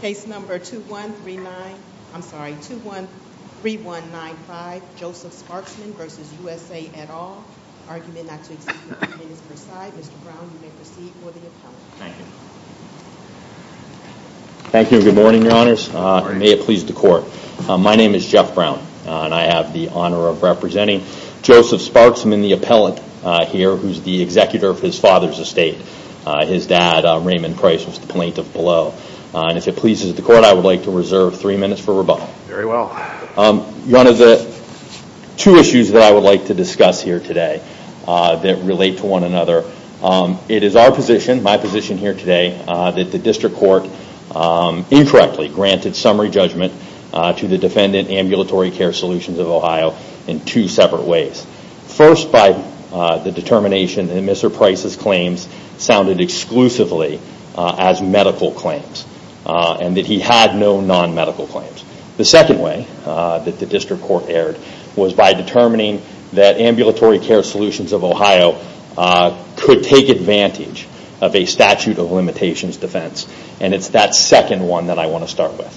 Case number 2139, I'm sorry, 213195 Joseph Sparksman v. USA et al. Argument not to exceed three minutes per side. Mr. Brown, you may proceed for the appellate. Thank you. Thank you. Good morning, your honors. May it please the court. My name is Jeff Brown and I have the honor of representing Joseph Sparksman, the appellate here, who's the If it pleases the court, I would like to reserve three minutes for rebuttal. Very well. One of the two issues that I would like to discuss here today that relate to one another. It is our position, my position here today, that the district court incorrectly granted summary judgment to the defendant Ambulatory Care Solutions of Ohio in two separate ways. First, by the determination that Mr. Price's claims sounded exclusively as medical claims and that he had no non-medical claims. The second way that the district court erred was by determining that Ambulatory Care Solutions of Ohio could take advantage of a statute of limitations defense. It's that second one that I want to start with.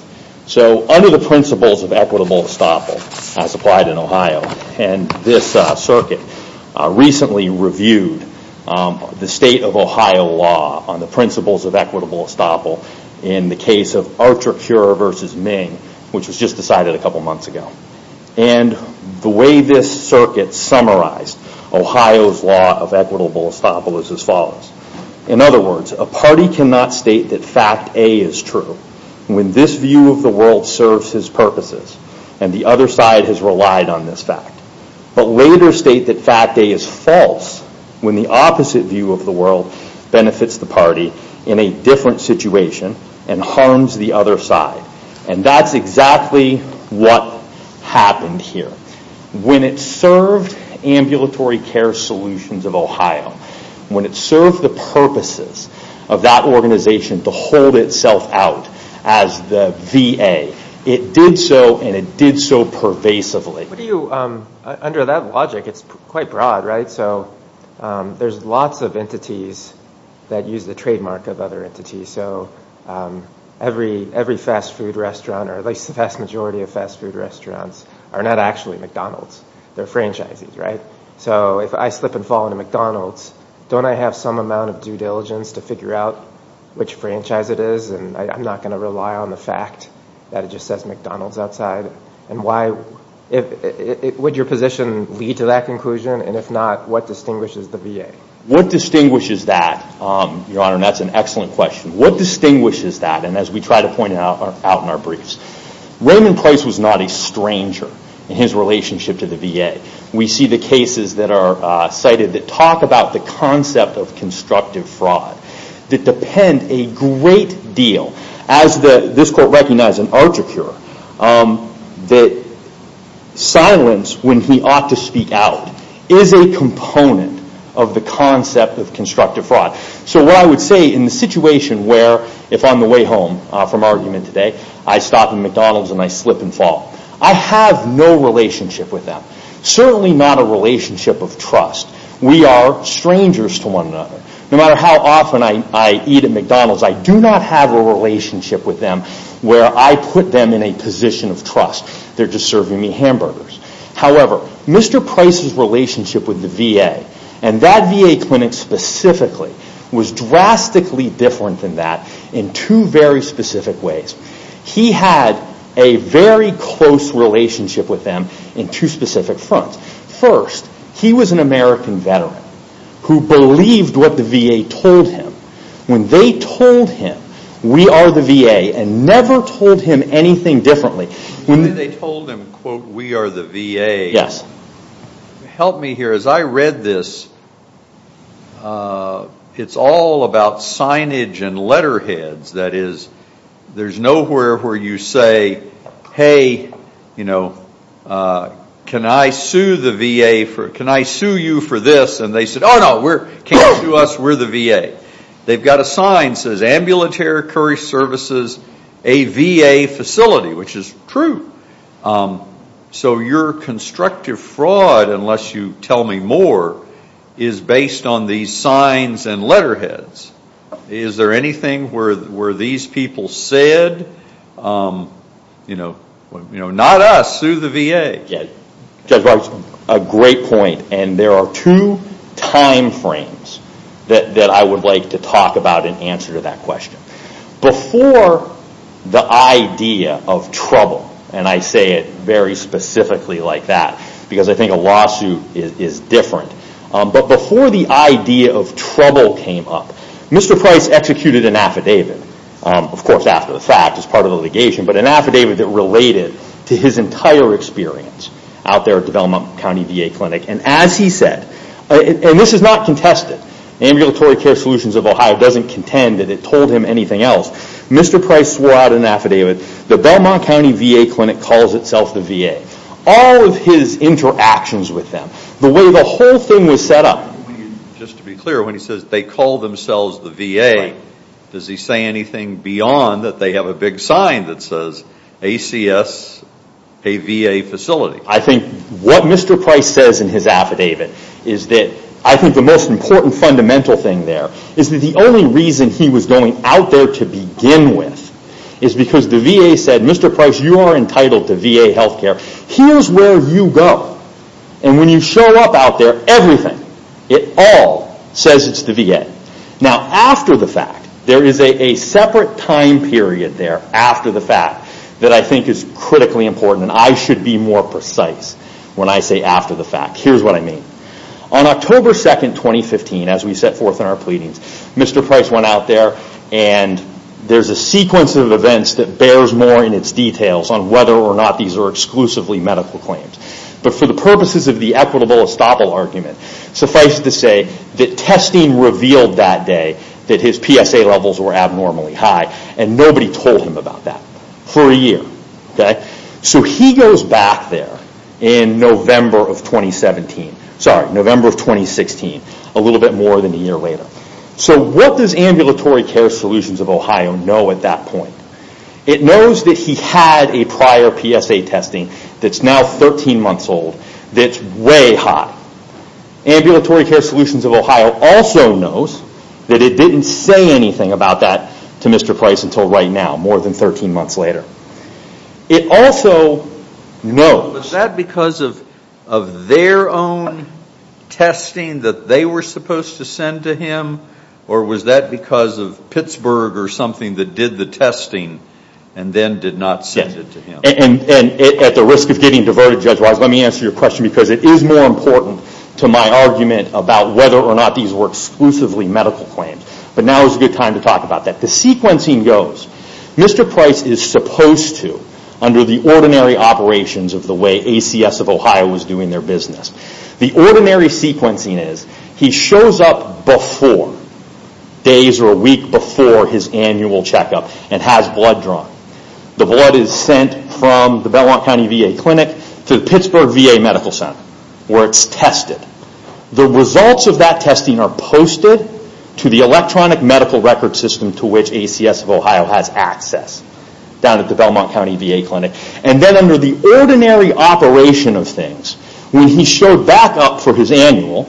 Under the principles of equitable estoppel, as applied in Ohio, and this circuit recently reviewed the state of Ohio law on the principles of equitable estoppel in the case of Archer Cure versus Ming, which was just decided a couple months ago. The way this circuit summarized Ohio's law of equitable estoppel is as follows. In other words, a party cannot state that fact A is true when this view of the world serves his purposes and the other side has relied on this fact, but later state that fact A is false when the opposite view of the world benefits the party in a different situation and harms the other side. That's exactly what happened here. When it served Ambulatory Care Solutions of Ohio, when it served the purposes of that as the VA, it did so and it did so pervasively. What do you, under that logic, it's quite broad, right? There's lots of entities that use the trademark of other entities. Every fast food restaurant, or at least the vast majority of fast food restaurants, are not actually McDonald's. They're franchises, right? If I slip and fall into McDonald's, don't I have some amount of due diligence to figure out which franchise it is? I'm not going to rely on the fact that it just says McDonald's outside. Would your position lead to that conclusion? If not, what distinguishes the VA? What distinguishes that, Your Honor? That's an excellent question. What distinguishes that? As we try to point out in our briefs, Raymond Price was not a stranger in his relationship to the VA. We see the cases that are cited that talk about the concept of constructive fraud that depend a great deal, as this court recognized in Archicure, that silence when he ought to speak out is a component of the concept of constructive fraud. What I would say in the situation where, if on the way home from argument today, I stop in McDonald's and I slip and fall, I have no relationship with them. Certainly not a relationship of trust. We are strangers to one another. No matter how often I eat at McDonald's, I do not have a relationship with them where I put them in a position of trust. They are just serving me hamburgers. However, Mr. Price's relationship with the VA, and that VA clinic specifically, was drastically different than that in two very specific ways. He had a very close relationship with them in two specific fronts. First, he was an American veteran who believed what the VA told him. When they told him, we are the VA, and never told him anything differently. When they told him, quote, we are the VA, help me here. As I read this, it is all about signage and letterheads. That is, there is nowhere where you say, hey, you know, can I sue the VA for, can I sue you for this? And they said, oh, no, we are, can you sue us? We are the VA. They have a sign that says, ambulatory services, a VA facility, which is true. So your constructive fraud, unless you tell me more, is based on these signs and letterheads. Is there anything where these people said, you know, not us, sue the VA. Judge Roberts, a great point. There are two time frames that I would like to talk about and answer to that question. Before the idea of trouble, and I say it very specifically like that, because I think a lawsuit is different. Before the idea of trouble came up, Mr. Price executed an affidavit, of course after the fact as part of the litigation, but an affidavit that related to his entire experience out there at the Belmont County VA Clinic. And as he said, and this is not contested, Ambulatory Care Solutions of Ohio doesn't contend that it told him anything else. Mr. Price swore out an affidavit, the Belmont County VA Clinic calls itself the VA. All of his interactions with them, the way the whole thing was set up. Just to be clear, when he says they call themselves the VA, does he say anything beyond that they have a big sign that says ACS, a VA facility? I think what Mr. Price says in his affidavit is that I think the most important fundamental thing there is that the only reason he was going out there to begin with is because the VA said, Mr. Price, you are entitled to VA health care. Here's where you go. And when you show up out there, everything, it all says it's the VA. Now, after the fact, there is a separate time period there after the fact that I think is critically important and I should be more precise when I say after the fact. Here's what I mean. On October 2, 2015, as we set forth in our pleadings, Mr. Price went out there and there's a sequence of events that bears more in its details on whether or not these are exclusively medical claims. But for the purposes of the equitable estoppel argument, suffice it to say that testing revealed that day that his PSA levels were abnormally high and nobody told him about that for a year. So he goes back there in November of 2016, a little bit more than a year later. So what does Ambulatory Care Solutions of Ohio know at that point? It knows that he had a prior PSA testing that's 13 months old, that's way high. Ambulatory Care Solutions of Ohio also knows that it didn't say anything about that to Mr. Price until right now, more than 13 months later. It also knows... Was that because of their own testing that they were supposed to send to him or was that because of Pittsburgh or something that did the testing and then did not send it to him? At the risk of getting diverted judge-wise, let me answer your question because it is more important to my argument about whether or not these were exclusively medical claims. But now is a good time to talk about that. The sequencing goes, Mr. Price is supposed to, under the ordinary operations of the way ACS of Ohio was doing their business, the ordinary sequencing is he shows up before, days or a week before his annual checkup and has blood drawn. The blood is sent from the Belmont County VA Clinic to the Pittsburgh VA Medical Center where it's tested. The results of that testing are posted to the electronic medical record system to which ACS of Ohio has access down at the Belmont County VA Clinic. And then under the ordinary operation of things, when he showed back up for his annual,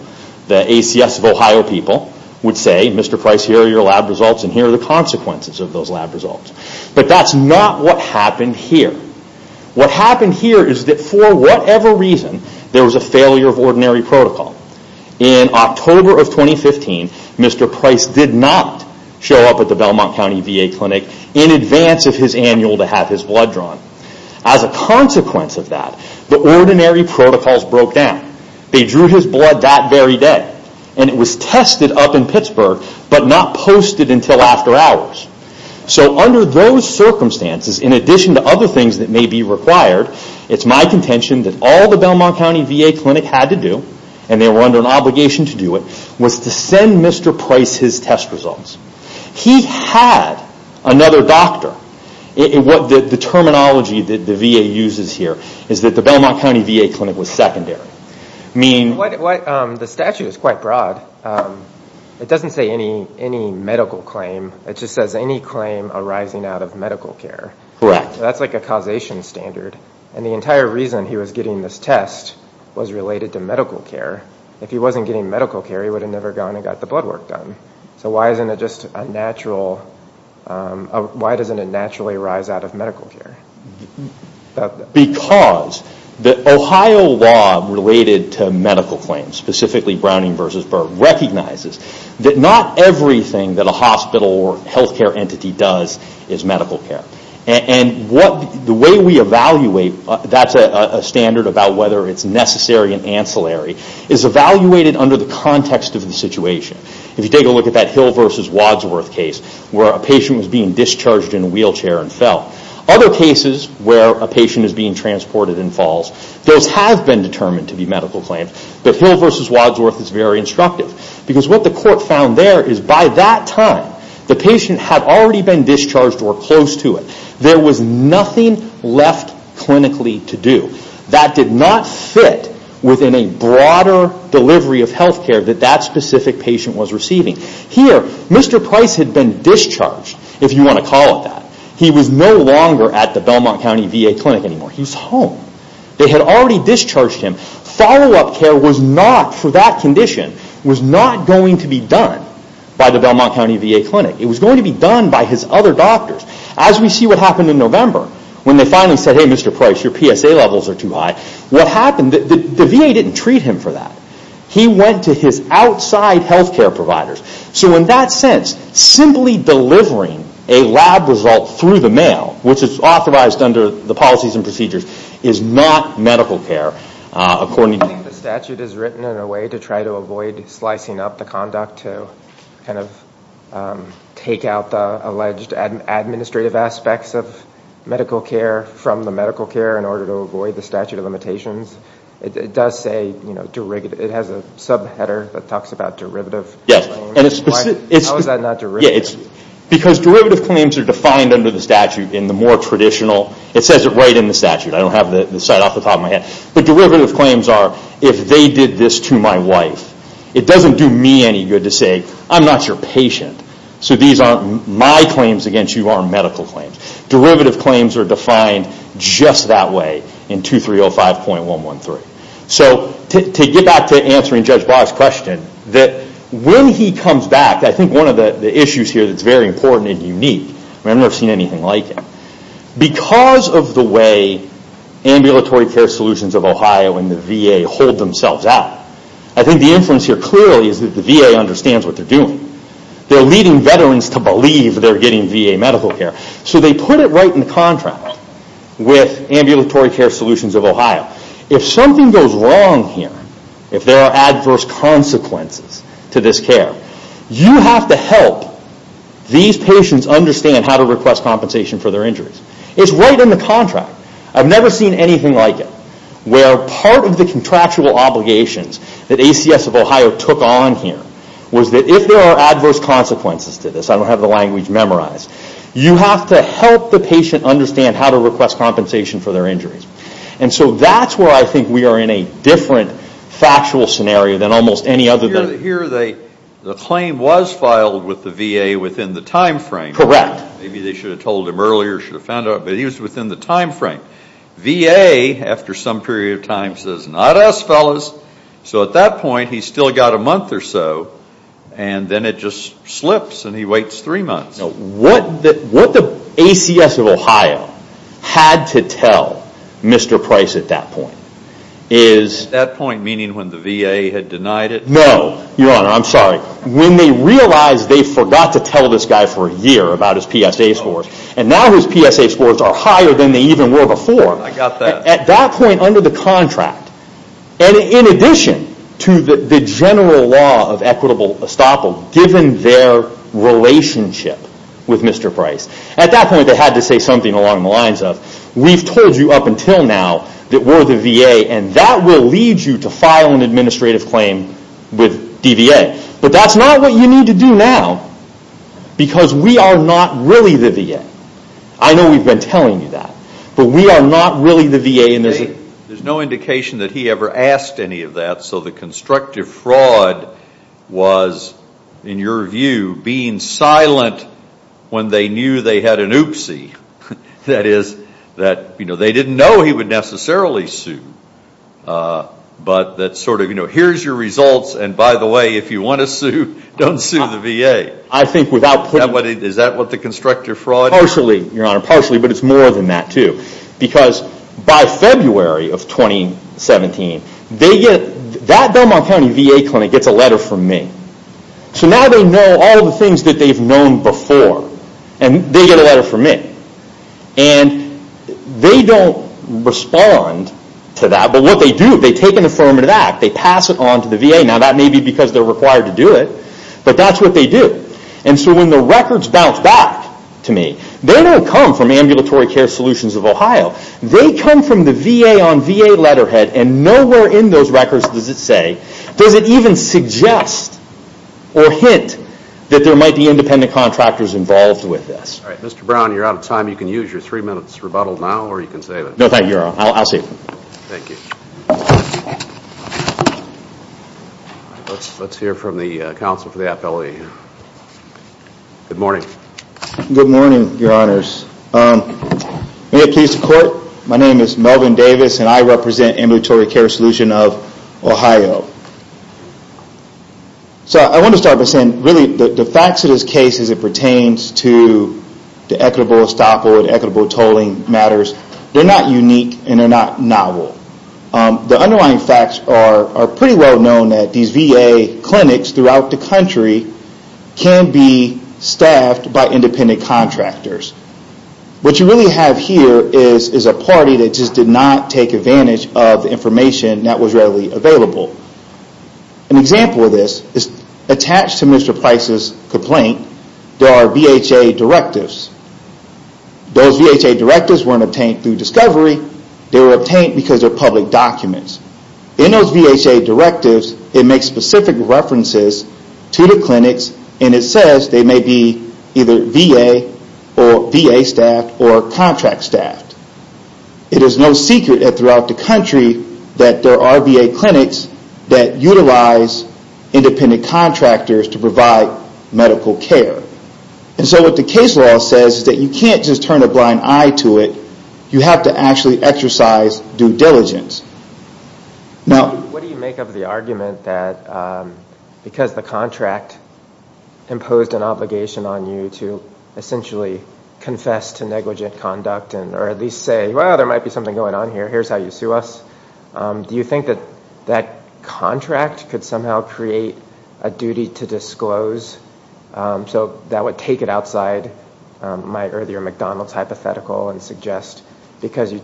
the ACS of Ohio people would say, Mr. Price here are your lab results and here are the consequences of those lab results. But that's not what happened here. What happened here is that for whatever reason, there was a failure of ordinary protocol. In October of 2015, Mr. Price did not show up at the Belmont County VA Clinic in advance of his annual to have his blood drawn. As a consequence of that, the ordinary protocols broke down. They drew his blood that very day and it was tested up in Pittsburgh, but not posted until after hours. So under those circumstances, in addition to other things that may be required, it's my contention that all the Belmont County VA Clinic had to do, and they were under an obligation to do it, was to send Mr. Price his test results. He had another doctor. The terminology that the VA uses here is that the Belmont County VA Clinic was secondary. The statute is quite broad. It doesn't say any medical claim. It just says any claim arising out of medical care. Correct. That's like a causation standard. And the entire reason he was getting this test was related to medical care. If he wasn't getting medical care, he would have never gone and got the blood work done. So why isn't it just a natural, why doesn't it related to medical claims? Specifically, Browning v. Berg recognizes that not everything that a hospital or healthcare entity does is medical care. The way we evaluate, that's a standard about whether it's necessary and ancillary, is evaluated under the context of the situation. If you take a look at that Hill v. Wadsworth case, where a patient was being discharged in a determined to be medical claim, but Hill v. Wadsworth is very instructive. What the court found there is by that time, the patient had already been discharged or close to it. There was nothing left clinically to do. That did not fit within a broader delivery of healthcare that that specific patient was receiving. Here, Mr. Price had been discharged, if you want to call it that. He was no longer at the Belmont County VA Clinic anymore. He was home. They had already discharged him. Follow-up care for that condition was not going to be done by the Belmont County VA Clinic. It was going to be done by his other doctors. As we see what happened in November, when they finally said, Mr. Price, your PSA levels are too high. What happened, the VA didn't treat him for that. He went to his outside healthcare providers. So in that sense, simply delivering a lab result through the mail, which is authorized under the policies and procedures, is not medical care. I think the statute is written in a way to try to avoid slicing up the conduct to take out the alleged administrative aspects of medical care from the medical care in order to avoid the statute of limitations. It does say, it has a sub-header that talks about derivative. Because derivative claims are defined under the statute in the more traditional, it says it right in the statute. I don't have the site off the top of my head. But derivative claims are, if they did this to my wife, it doesn't do me any good to say, I'm not your patient. So these aren't my claims against you, these are medical claims. Derivative claims are defined just that way in 2305.113. To get back to answering Judge Barr's question, that when he comes back, I think one of the issues here that's very important and unique, I've never seen anything like it. Because of the way Ambulatory Care Solutions of Ohio and the VA hold themselves out, I think the influence here clearly is that the VA understands what they're doing. They're leading veterans to believe they're getting VA medical care. So they put it right in contract with Ambulatory Care Solutions of Ohio. If something goes wrong here, if there are adverse consequences to this care, you have to help these patients understand how to request compensation for their injuries. It's right in the contract. I've never seen anything like it. Where part of the contractual obligations that ACS of Ohio took on here was that if there are adverse consequences to this, I don't have the language memorized, you have to help the patient understand how to request compensation for their injuries. So that's where I think we are in a different factual scenario than almost any other. Here the claim was filed with the VA within the time frame. Correct. Maybe they should have told him earlier, should have found out. But he was within the time frame. VA, after some period of time, says, not us, fellas. So at that point, he's still got a month or so. And then it just slips and he waits three months. What the ACS of Ohio had to tell Mr. Price at that point is... At that point, meaning when the VA had denied it? No. Your Honor, I'm sorry. When they realized they forgot to tell this guy for a year about his PSA scores. And now his PSA scores are higher than they even were before. I got that. At that point under the contract, and in addition to the general law of equitable estoppel, given their relationship with Mr. Price, at that point they had to say something along the lines of, we've told you up until now that we're the VA and that will lead you to file an administrative claim with DVA. But that's not what you need to do now because we are not really the VA. I know we've been telling you that, but we are not really the VA. There's no indication that he ever asked any of that. So the constructive fraud was, in your view, being silent when they knew they had an oopsie. That is, that they didn't know he would necessarily sue. But that sort of, here's your results, and by the way, if you want to sue, don't sue the VA. I think without putting... Is that what the constructive fraud... Partially, Your Honor. Partially, but it's more than that too. Because by February of 2017, that Belmont County VA clinic gets a letter from me. So now they know all the things that they've known before, and they get a letter from me. They don't respond to that, but what they do, they take an affirmative act, they pass it on to the VA. Now that may be because they're required to do it, but that's what they do. So when the records bounce back to me, they don't come from Ambulatory Care Solutions of Ohio. They come from the VA on VA letterhead, and nowhere in those records does it say, does it even suggest or hint that there might be independent contractors involved with this. All right, Mr. Brown, you're out of time. You can use your three minutes rebuttal now, or you can save it. No, thank you, Your Honor. I'll save it. Thank you. Let's hear from the counsel for the appellee. Good morning. Good morning, Your Honors. May it please the Court, my name is Melvin Davis, and I represent Ambulatory Care Solutions of Ohio. So I want to start by saying, really, the facts of this case as it pertains to the equitable estoppel and equitable tolling matters, they're not unique, and they're not novel. The underlying facts are pretty well known that these VA clinics throughout the country can be staffed by independent contractors. What you really have here is a party that just did not take advantage of the information that was readily available. An example of this is attached to Mr. Price's complaint, there are VHA directives. Those VHA directives weren't obtained through discovery, they were obtained because of public and it says they may be either VA or VA staffed or contract staffed. It is no secret that throughout the country that there are VA clinics that utilize independent contractors to provide medical care. So what the case law says is that you can't just turn a blind eye to it, you have to actually exercise due diligence. Now, what do you make of the argument that because the contract imposed an obligation on you to essentially confess to negligent conduct or at least say, well, there might be something going on here, here's how you sue us, do you think that that contract could somehow create a duty to disclose so that would take it outside my earlier McDonald's hypothetical and suggest because you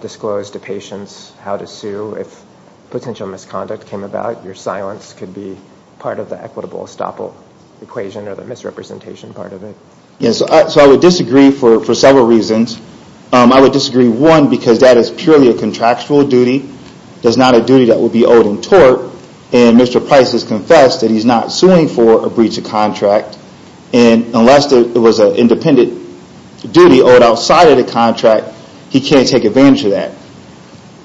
disclosed to patients how to sue if potential misconduct came about, your silence could be part of the equitable estoppel equation or the misrepresentation part of it? Yes, so I would disagree for several reasons. I would disagree, one, because that is purely a contractual duty, that's not a duty that would be owed in tort and Mr. Price has confessed that he's not suing for a breach of contract and unless it was an independent duty owed outside of the contract, he can't take advantage of that.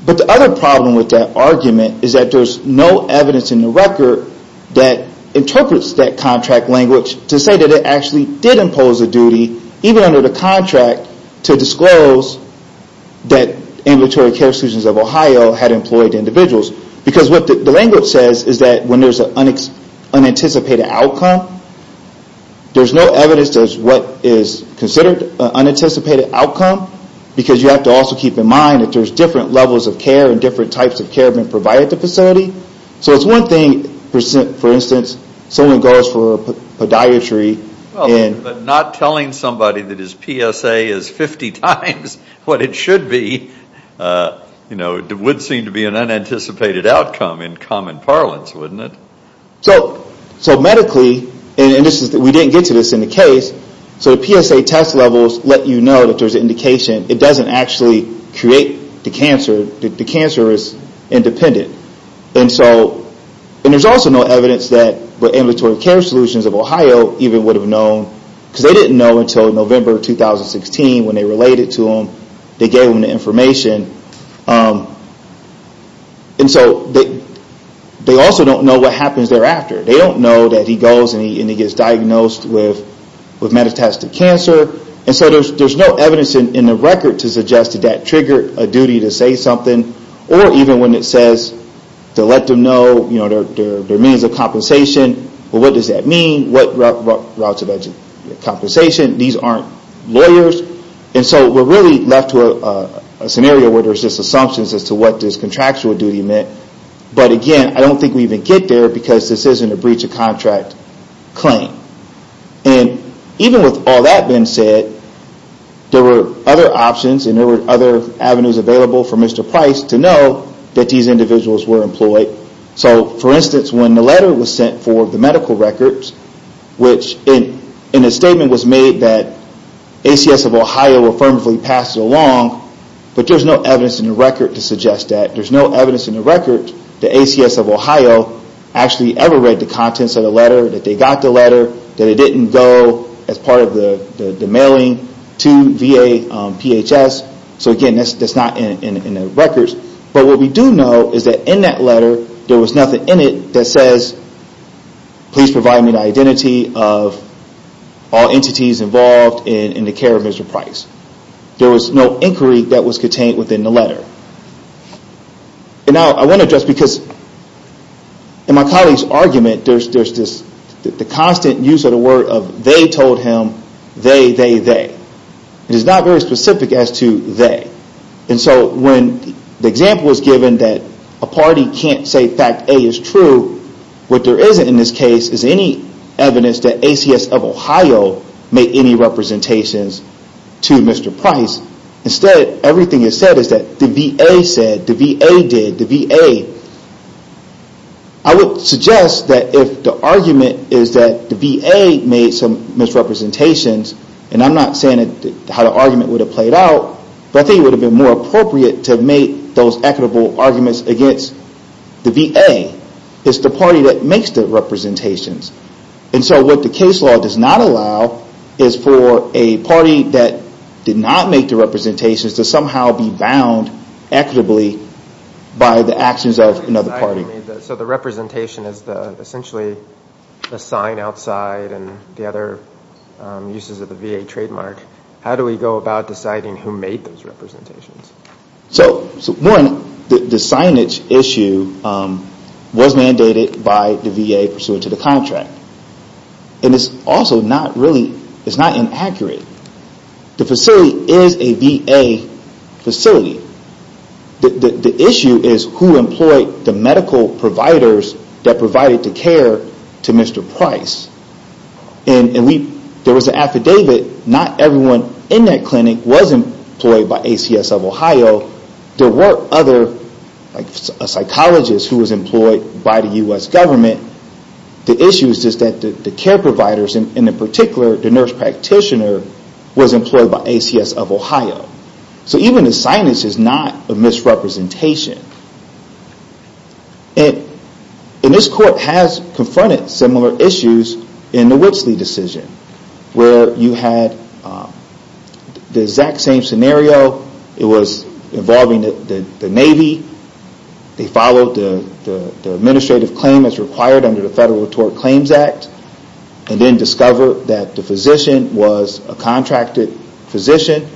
But the other problem with that argument is that there's no evidence in the record that interprets that contract language to say that it actually did impose a duty even under the contract to disclose that ambulatory care institutions of Ohio had employed individuals because what the language says is that when there's an unanticipated outcome, there's no evidence as to what is considered an unanticipated outcome because you have to also keep in mind that there's different levels of care and different types of care being provided at the facility. So it's one thing, for instance, someone goes for podiatry and- But not telling somebody that his PSA is 50 times what it should be would seem to be an unanticipated outcome in common parlance, wouldn't it? So medically, and we didn't get to this in the case, so the PSA test levels let you know that there's an indication. It doesn't actually create the cancer. The cancer is independent. And there's also no evidence that the ambulatory care solutions of Ohio even would have known because they didn't know until November 2016 when they related to them. They gave them the They don't know that he goes and he gets diagnosed with metastatic cancer. And so there's no evidence in the record to suggest that that triggered a duty to say something or even when it says to let them know their means of compensation, but what does that mean? What routes of compensation? These aren't lawyers. And so we're really left to a scenario where there's just assumptions as to what this contractual meant. But again, I don't think we even get there because this isn't a breach of contract claim. And even with all that being said, there were other options and there were other avenues available for Mr. Price to know that these individuals were employed. So for instance, when the letter was sent for the medical records, which in a statement was made that ACS of Ohio affirmatively passed it along, but there's no evidence in the record to suggest that. There's no evidence in the record that ACS of Ohio actually ever read the contents of the letter, that they got the letter, that it didn't go as part of the mailing to VA PHS. So again, that's not in the records. But what we do know is that in that letter, there was nothing in it that says, please provide me the identity of all entities involved in the care of Mr. Price. There was no inquiry that was contained within the letter. And now I want to address because in my colleague's argument, there's this constant use of the word of they told him, they, they, they. It is not very specific as to they. And so when the example was given that a party can't say fact A is true, what there isn't in this case is any evidence that ACS of Ohio made any representations to Mr. Price. Instead, everything is said is that the VA said, the VA did, the VA. I would suggest that if the argument is that the VA made some misrepresentations, and I'm not saying that how the argument would have played out, but I think it would have been more appropriate to make those equitable arguments against the VA. It's the party that makes the representations. And so what the case law does not allow is for a party that did not make the representations to somehow be bound equitably by the actions of another party. So the representation is essentially a sign outside and the other uses of the VA trademark. How do we go about deciding who made those representations? So one, the signage issue was mandated by the VA pursuant to the contract. And it's also not really, it's not inaccurate. The facility is a VA facility. The issue is who employed the medical providers that provided the care to Mr. Price. And we, there was an affidavit, not everyone in that clinic was employed by ACS of Ohio. There were other, like a psychologist who was employed by the U.S. government. The issue is just that the care providers, and in particular, the nurse practitioner was employed by ACS of Ohio. So even the signage is not a misrepresentation. And this court has confronted similar issues in the Witsley decision where you had the exact same scenario. It was involving the Navy. They followed the administrative claim as required under the Federal Tort Claims Act and then discovered that the physician was a contracted physician.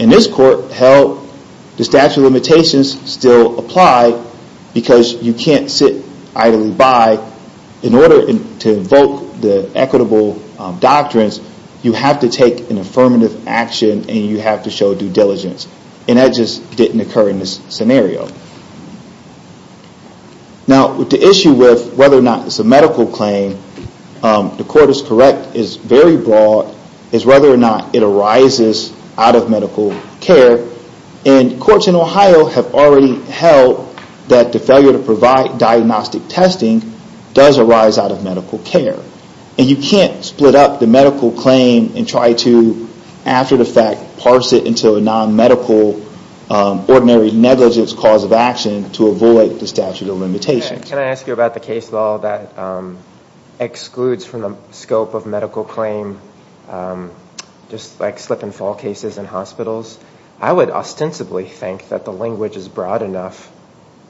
And this court held the statute of limitations still applied because you can't sit idly by. In order to invoke the equitable doctrines, you have to take an affirmative action and you have to show due diligence. And that just didn't occur in this scenario. Now, the issue with whether or not it's a medical claim, the court is correct, is very broad, is whether or not it arises out of medical care. And courts in Ohio have already held that the failure to provide diagnostic testing does arise out of medical care. And you can't split up the medical claim and try to, after the fact, parse it into a non-medical, ordinary negligence cause of action to avoid the statute of limitations. Can I ask you about the case law that excludes from the scope of cases in hospitals? I would ostensibly think that the language is broad enough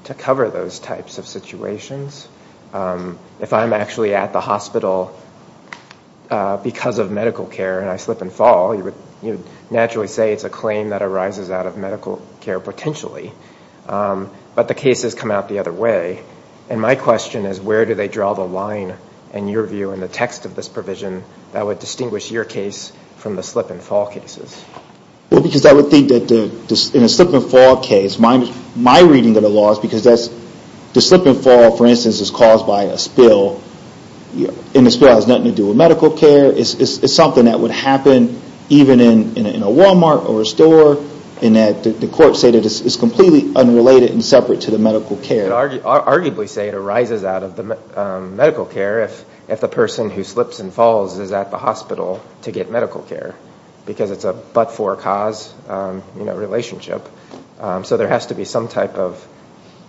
to cover those types of situations. If I'm actually at the hospital because of medical care and I slip and fall, you would naturally say it's a claim that arises out of medical care, potentially. But the cases come out the other way. And my question is, where do they draw the line, in your view, in the text of this provision that would distinguish your case from the slip and fall cases? Well, because I would think that in a slip and fall case, my reading of the law is because the slip and fall, for instance, is caused by a spill. And the spill has nothing to do with medical care. It's something that would happen even in a Walmart or a store, in that the courts say that it's completely unrelated and separate to the medical care. I would arguably say it arises out of the medical care if the person who slips and falls is at the hospital to get medical care, because it's a but-for-cause relationship. So there has to be some type of,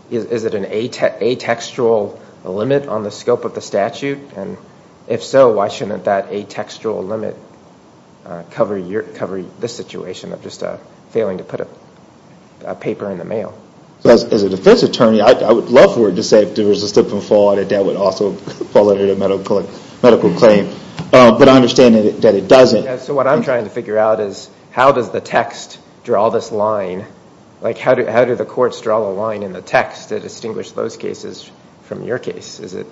is it an atextual limit on the scope of the statute? And if so, why shouldn't that atextual limit cover this situation of just failing to put a paper in the mail? So as a defense attorney, I would love for it to say if there was a slip and fall that that would fall under the medical claim. But I understand that it doesn't. So what I'm trying to figure out is how does the text draw this line? How do the courts draw a line in the text to distinguish those cases from your case? Is it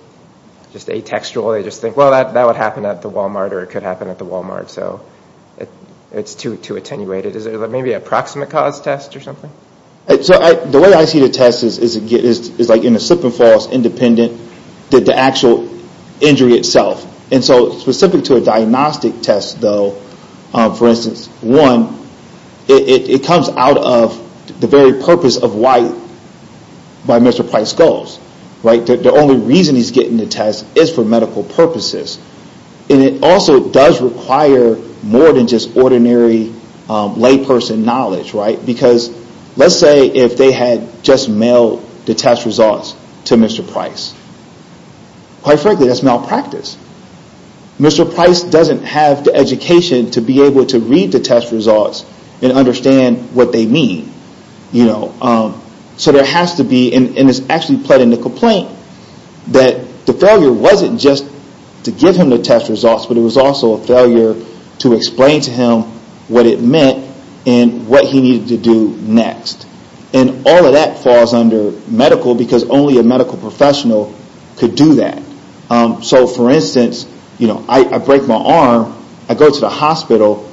just atextual? They just think, well, that would happen at the Walmart or it could happen at the Walmart. So it's too attenuated. Is there maybe a proximate cause test or something? So the way I see the test is like in a slip and independent that the actual injury itself. And so specific to a diagnostic test though, for instance, one, it comes out of the very purpose of why Mr. Price goes. The only reason he's getting the test is for medical purposes. And it also does require more than just ordinary layperson knowledge. Because let's say if they had just mailed the test results to Mr. Price, quite frankly, that's malpractice. Mr. Price doesn't have the education to be able to read the test results and understand what they mean. So there has to be, and it's actually pled in the complaint, that the failure wasn't just to give him the test results, but it was also a failure to explain to him what it meant and what he needed to do next. And all of that falls under medical because only a medical professional could do that. So for instance, I break my arm, I go to the hospital,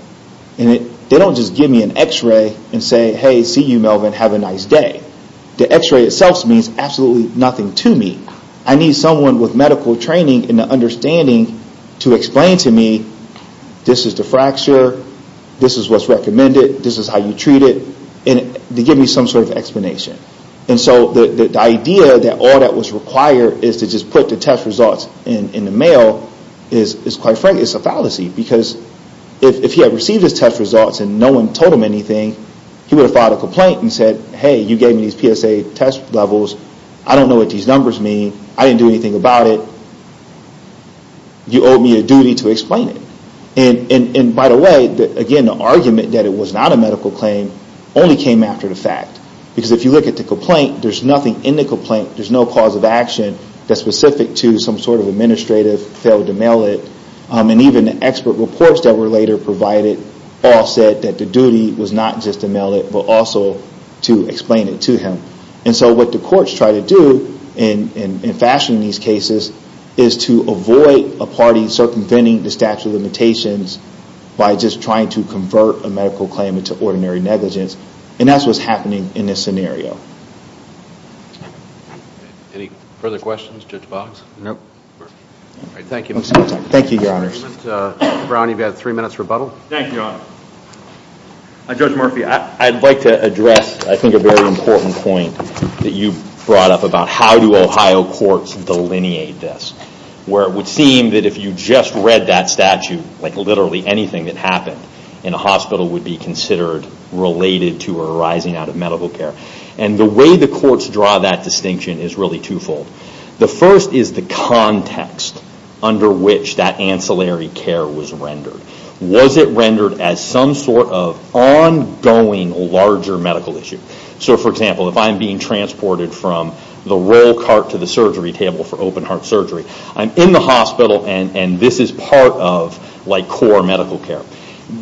and they don't just give me an x-ray and say, hey, see you Melvin, have a nice day. The x-ray itself means absolutely nothing to me. I need someone with medical training and an understanding to explain to me, this is the fracture, this is what's recommended, this is how you treat it, and to give me some sort of explanation. And so the idea that all that was required is to just put the test results in the mail is, quite frankly, is a fallacy. Because if he had received his test results and no one told him anything, he would have filed a complaint and said, hey, you gave me these PSA test levels, I don't know what these numbers mean, I didn't do anything about it, you owe me a duty to explain it. And by the way, again, the argument that it was not a medical claim only came after the fact. Because if you look at the complaint, there's nothing in the complaint, there's no cause of action that's specific to some sort of administrative failed to mail it. And even the expert reports that were later provided all said that the duty was not just to mail it, but also to explain it to him. And so what the courts try to do in fashioning these cases is to avoid a party circumventing the statute of limitations by just trying to convert a medical claim into ordinary negligence. And that's what's happening in this scenario. Any further questions, Judge Boggs? No. Thank you. Thank you, your honors. Brown, you've got three minutes rebuttal. Thank you, your honor. Judge Murphy, I'd like to address, I think, a very important point that you brought up about how do Ohio courts delineate this? Where it would seem that if you just read that statute, literally anything that happened in a hospital would be considered related to or arising out of medical care. And the way the courts draw that distinction is really twofold. The first is the context under which that ancillary care was rendered. Was it rendered as some sort of ongoing larger medical issue? So for example, if I'm being transported from the roll cart to the surgery table for open heart surgery, I'm in the hospital and this is part of core medical care.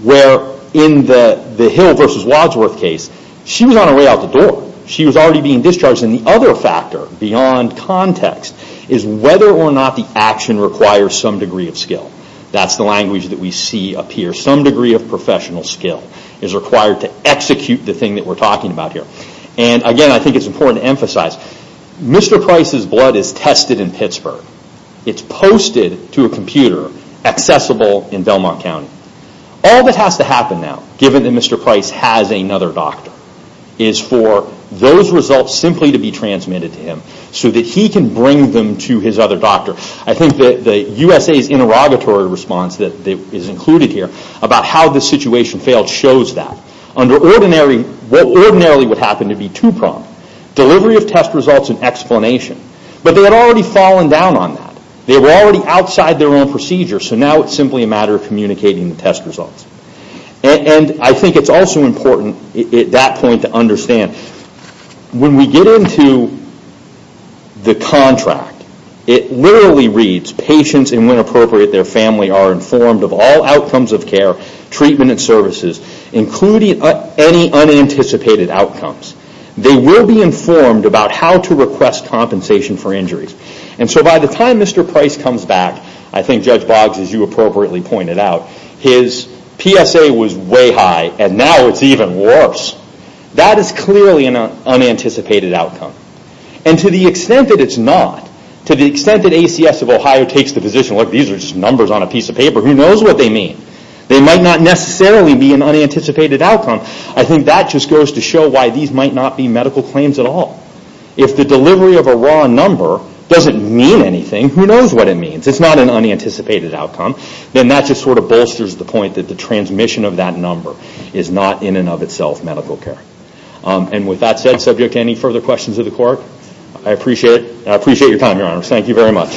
Where in the Hill v. Wadsworth case, she was on her way out the door. She was already being discharged. And the other factor beyond context is whether or not the action requires some degree of skill. That's the language that we see up here. Some degree of professional skill is required to execute the thing that we're talking about here. And again, I think it's important to emphasize, Mr. Price's blood is tested in Pittsburgh. It's posted to a computer, accessible in Belmont County. All that has to happen now, given that Mr. Price has another doctor, is for those results simply to be transmitted to him so that he can bring them to his other doctor. I think that the USA's interrogatory response that is included here about how the situation failed shows that. Under what ordinarily would happen to be two-pronged, delivery of test results and explanation. But they had already fallen down on that. They were already outside their own procedure. So now it's simply a matter of communicating the test results. And I think it's also important at that point to understand, when we get into the contract, it literally reads, patients and when appropriate their family are informed of all outcomes of care, treatment and services, including any unanticipated outcomes. They will be informed about how to request compensation for injuries. And so by the time Mr. Price comes back, I think Judge Boggs, as you appropriately pointed out, his PSA was way high and now it's even worse. That is clearly an unanticipated outcome. And to the extent that it's not, to the extent that ACS of Ohio takes the position, look these are just numbers on a piece of paper, who knows what they mean. They might not necessarily be an unanticipated outcome. I think that just goes to show why these might not be medical claims at all. If the delivery of a raw number doesn't mean anything, who knows what it means. It's not an unanticipated outcome. And that just sort of bolsters the point that the transmission of that number is not in and of itself medical care. And with that said, subject to any further questions of the court, I appreciate your time, Your Honor. Thank you very much.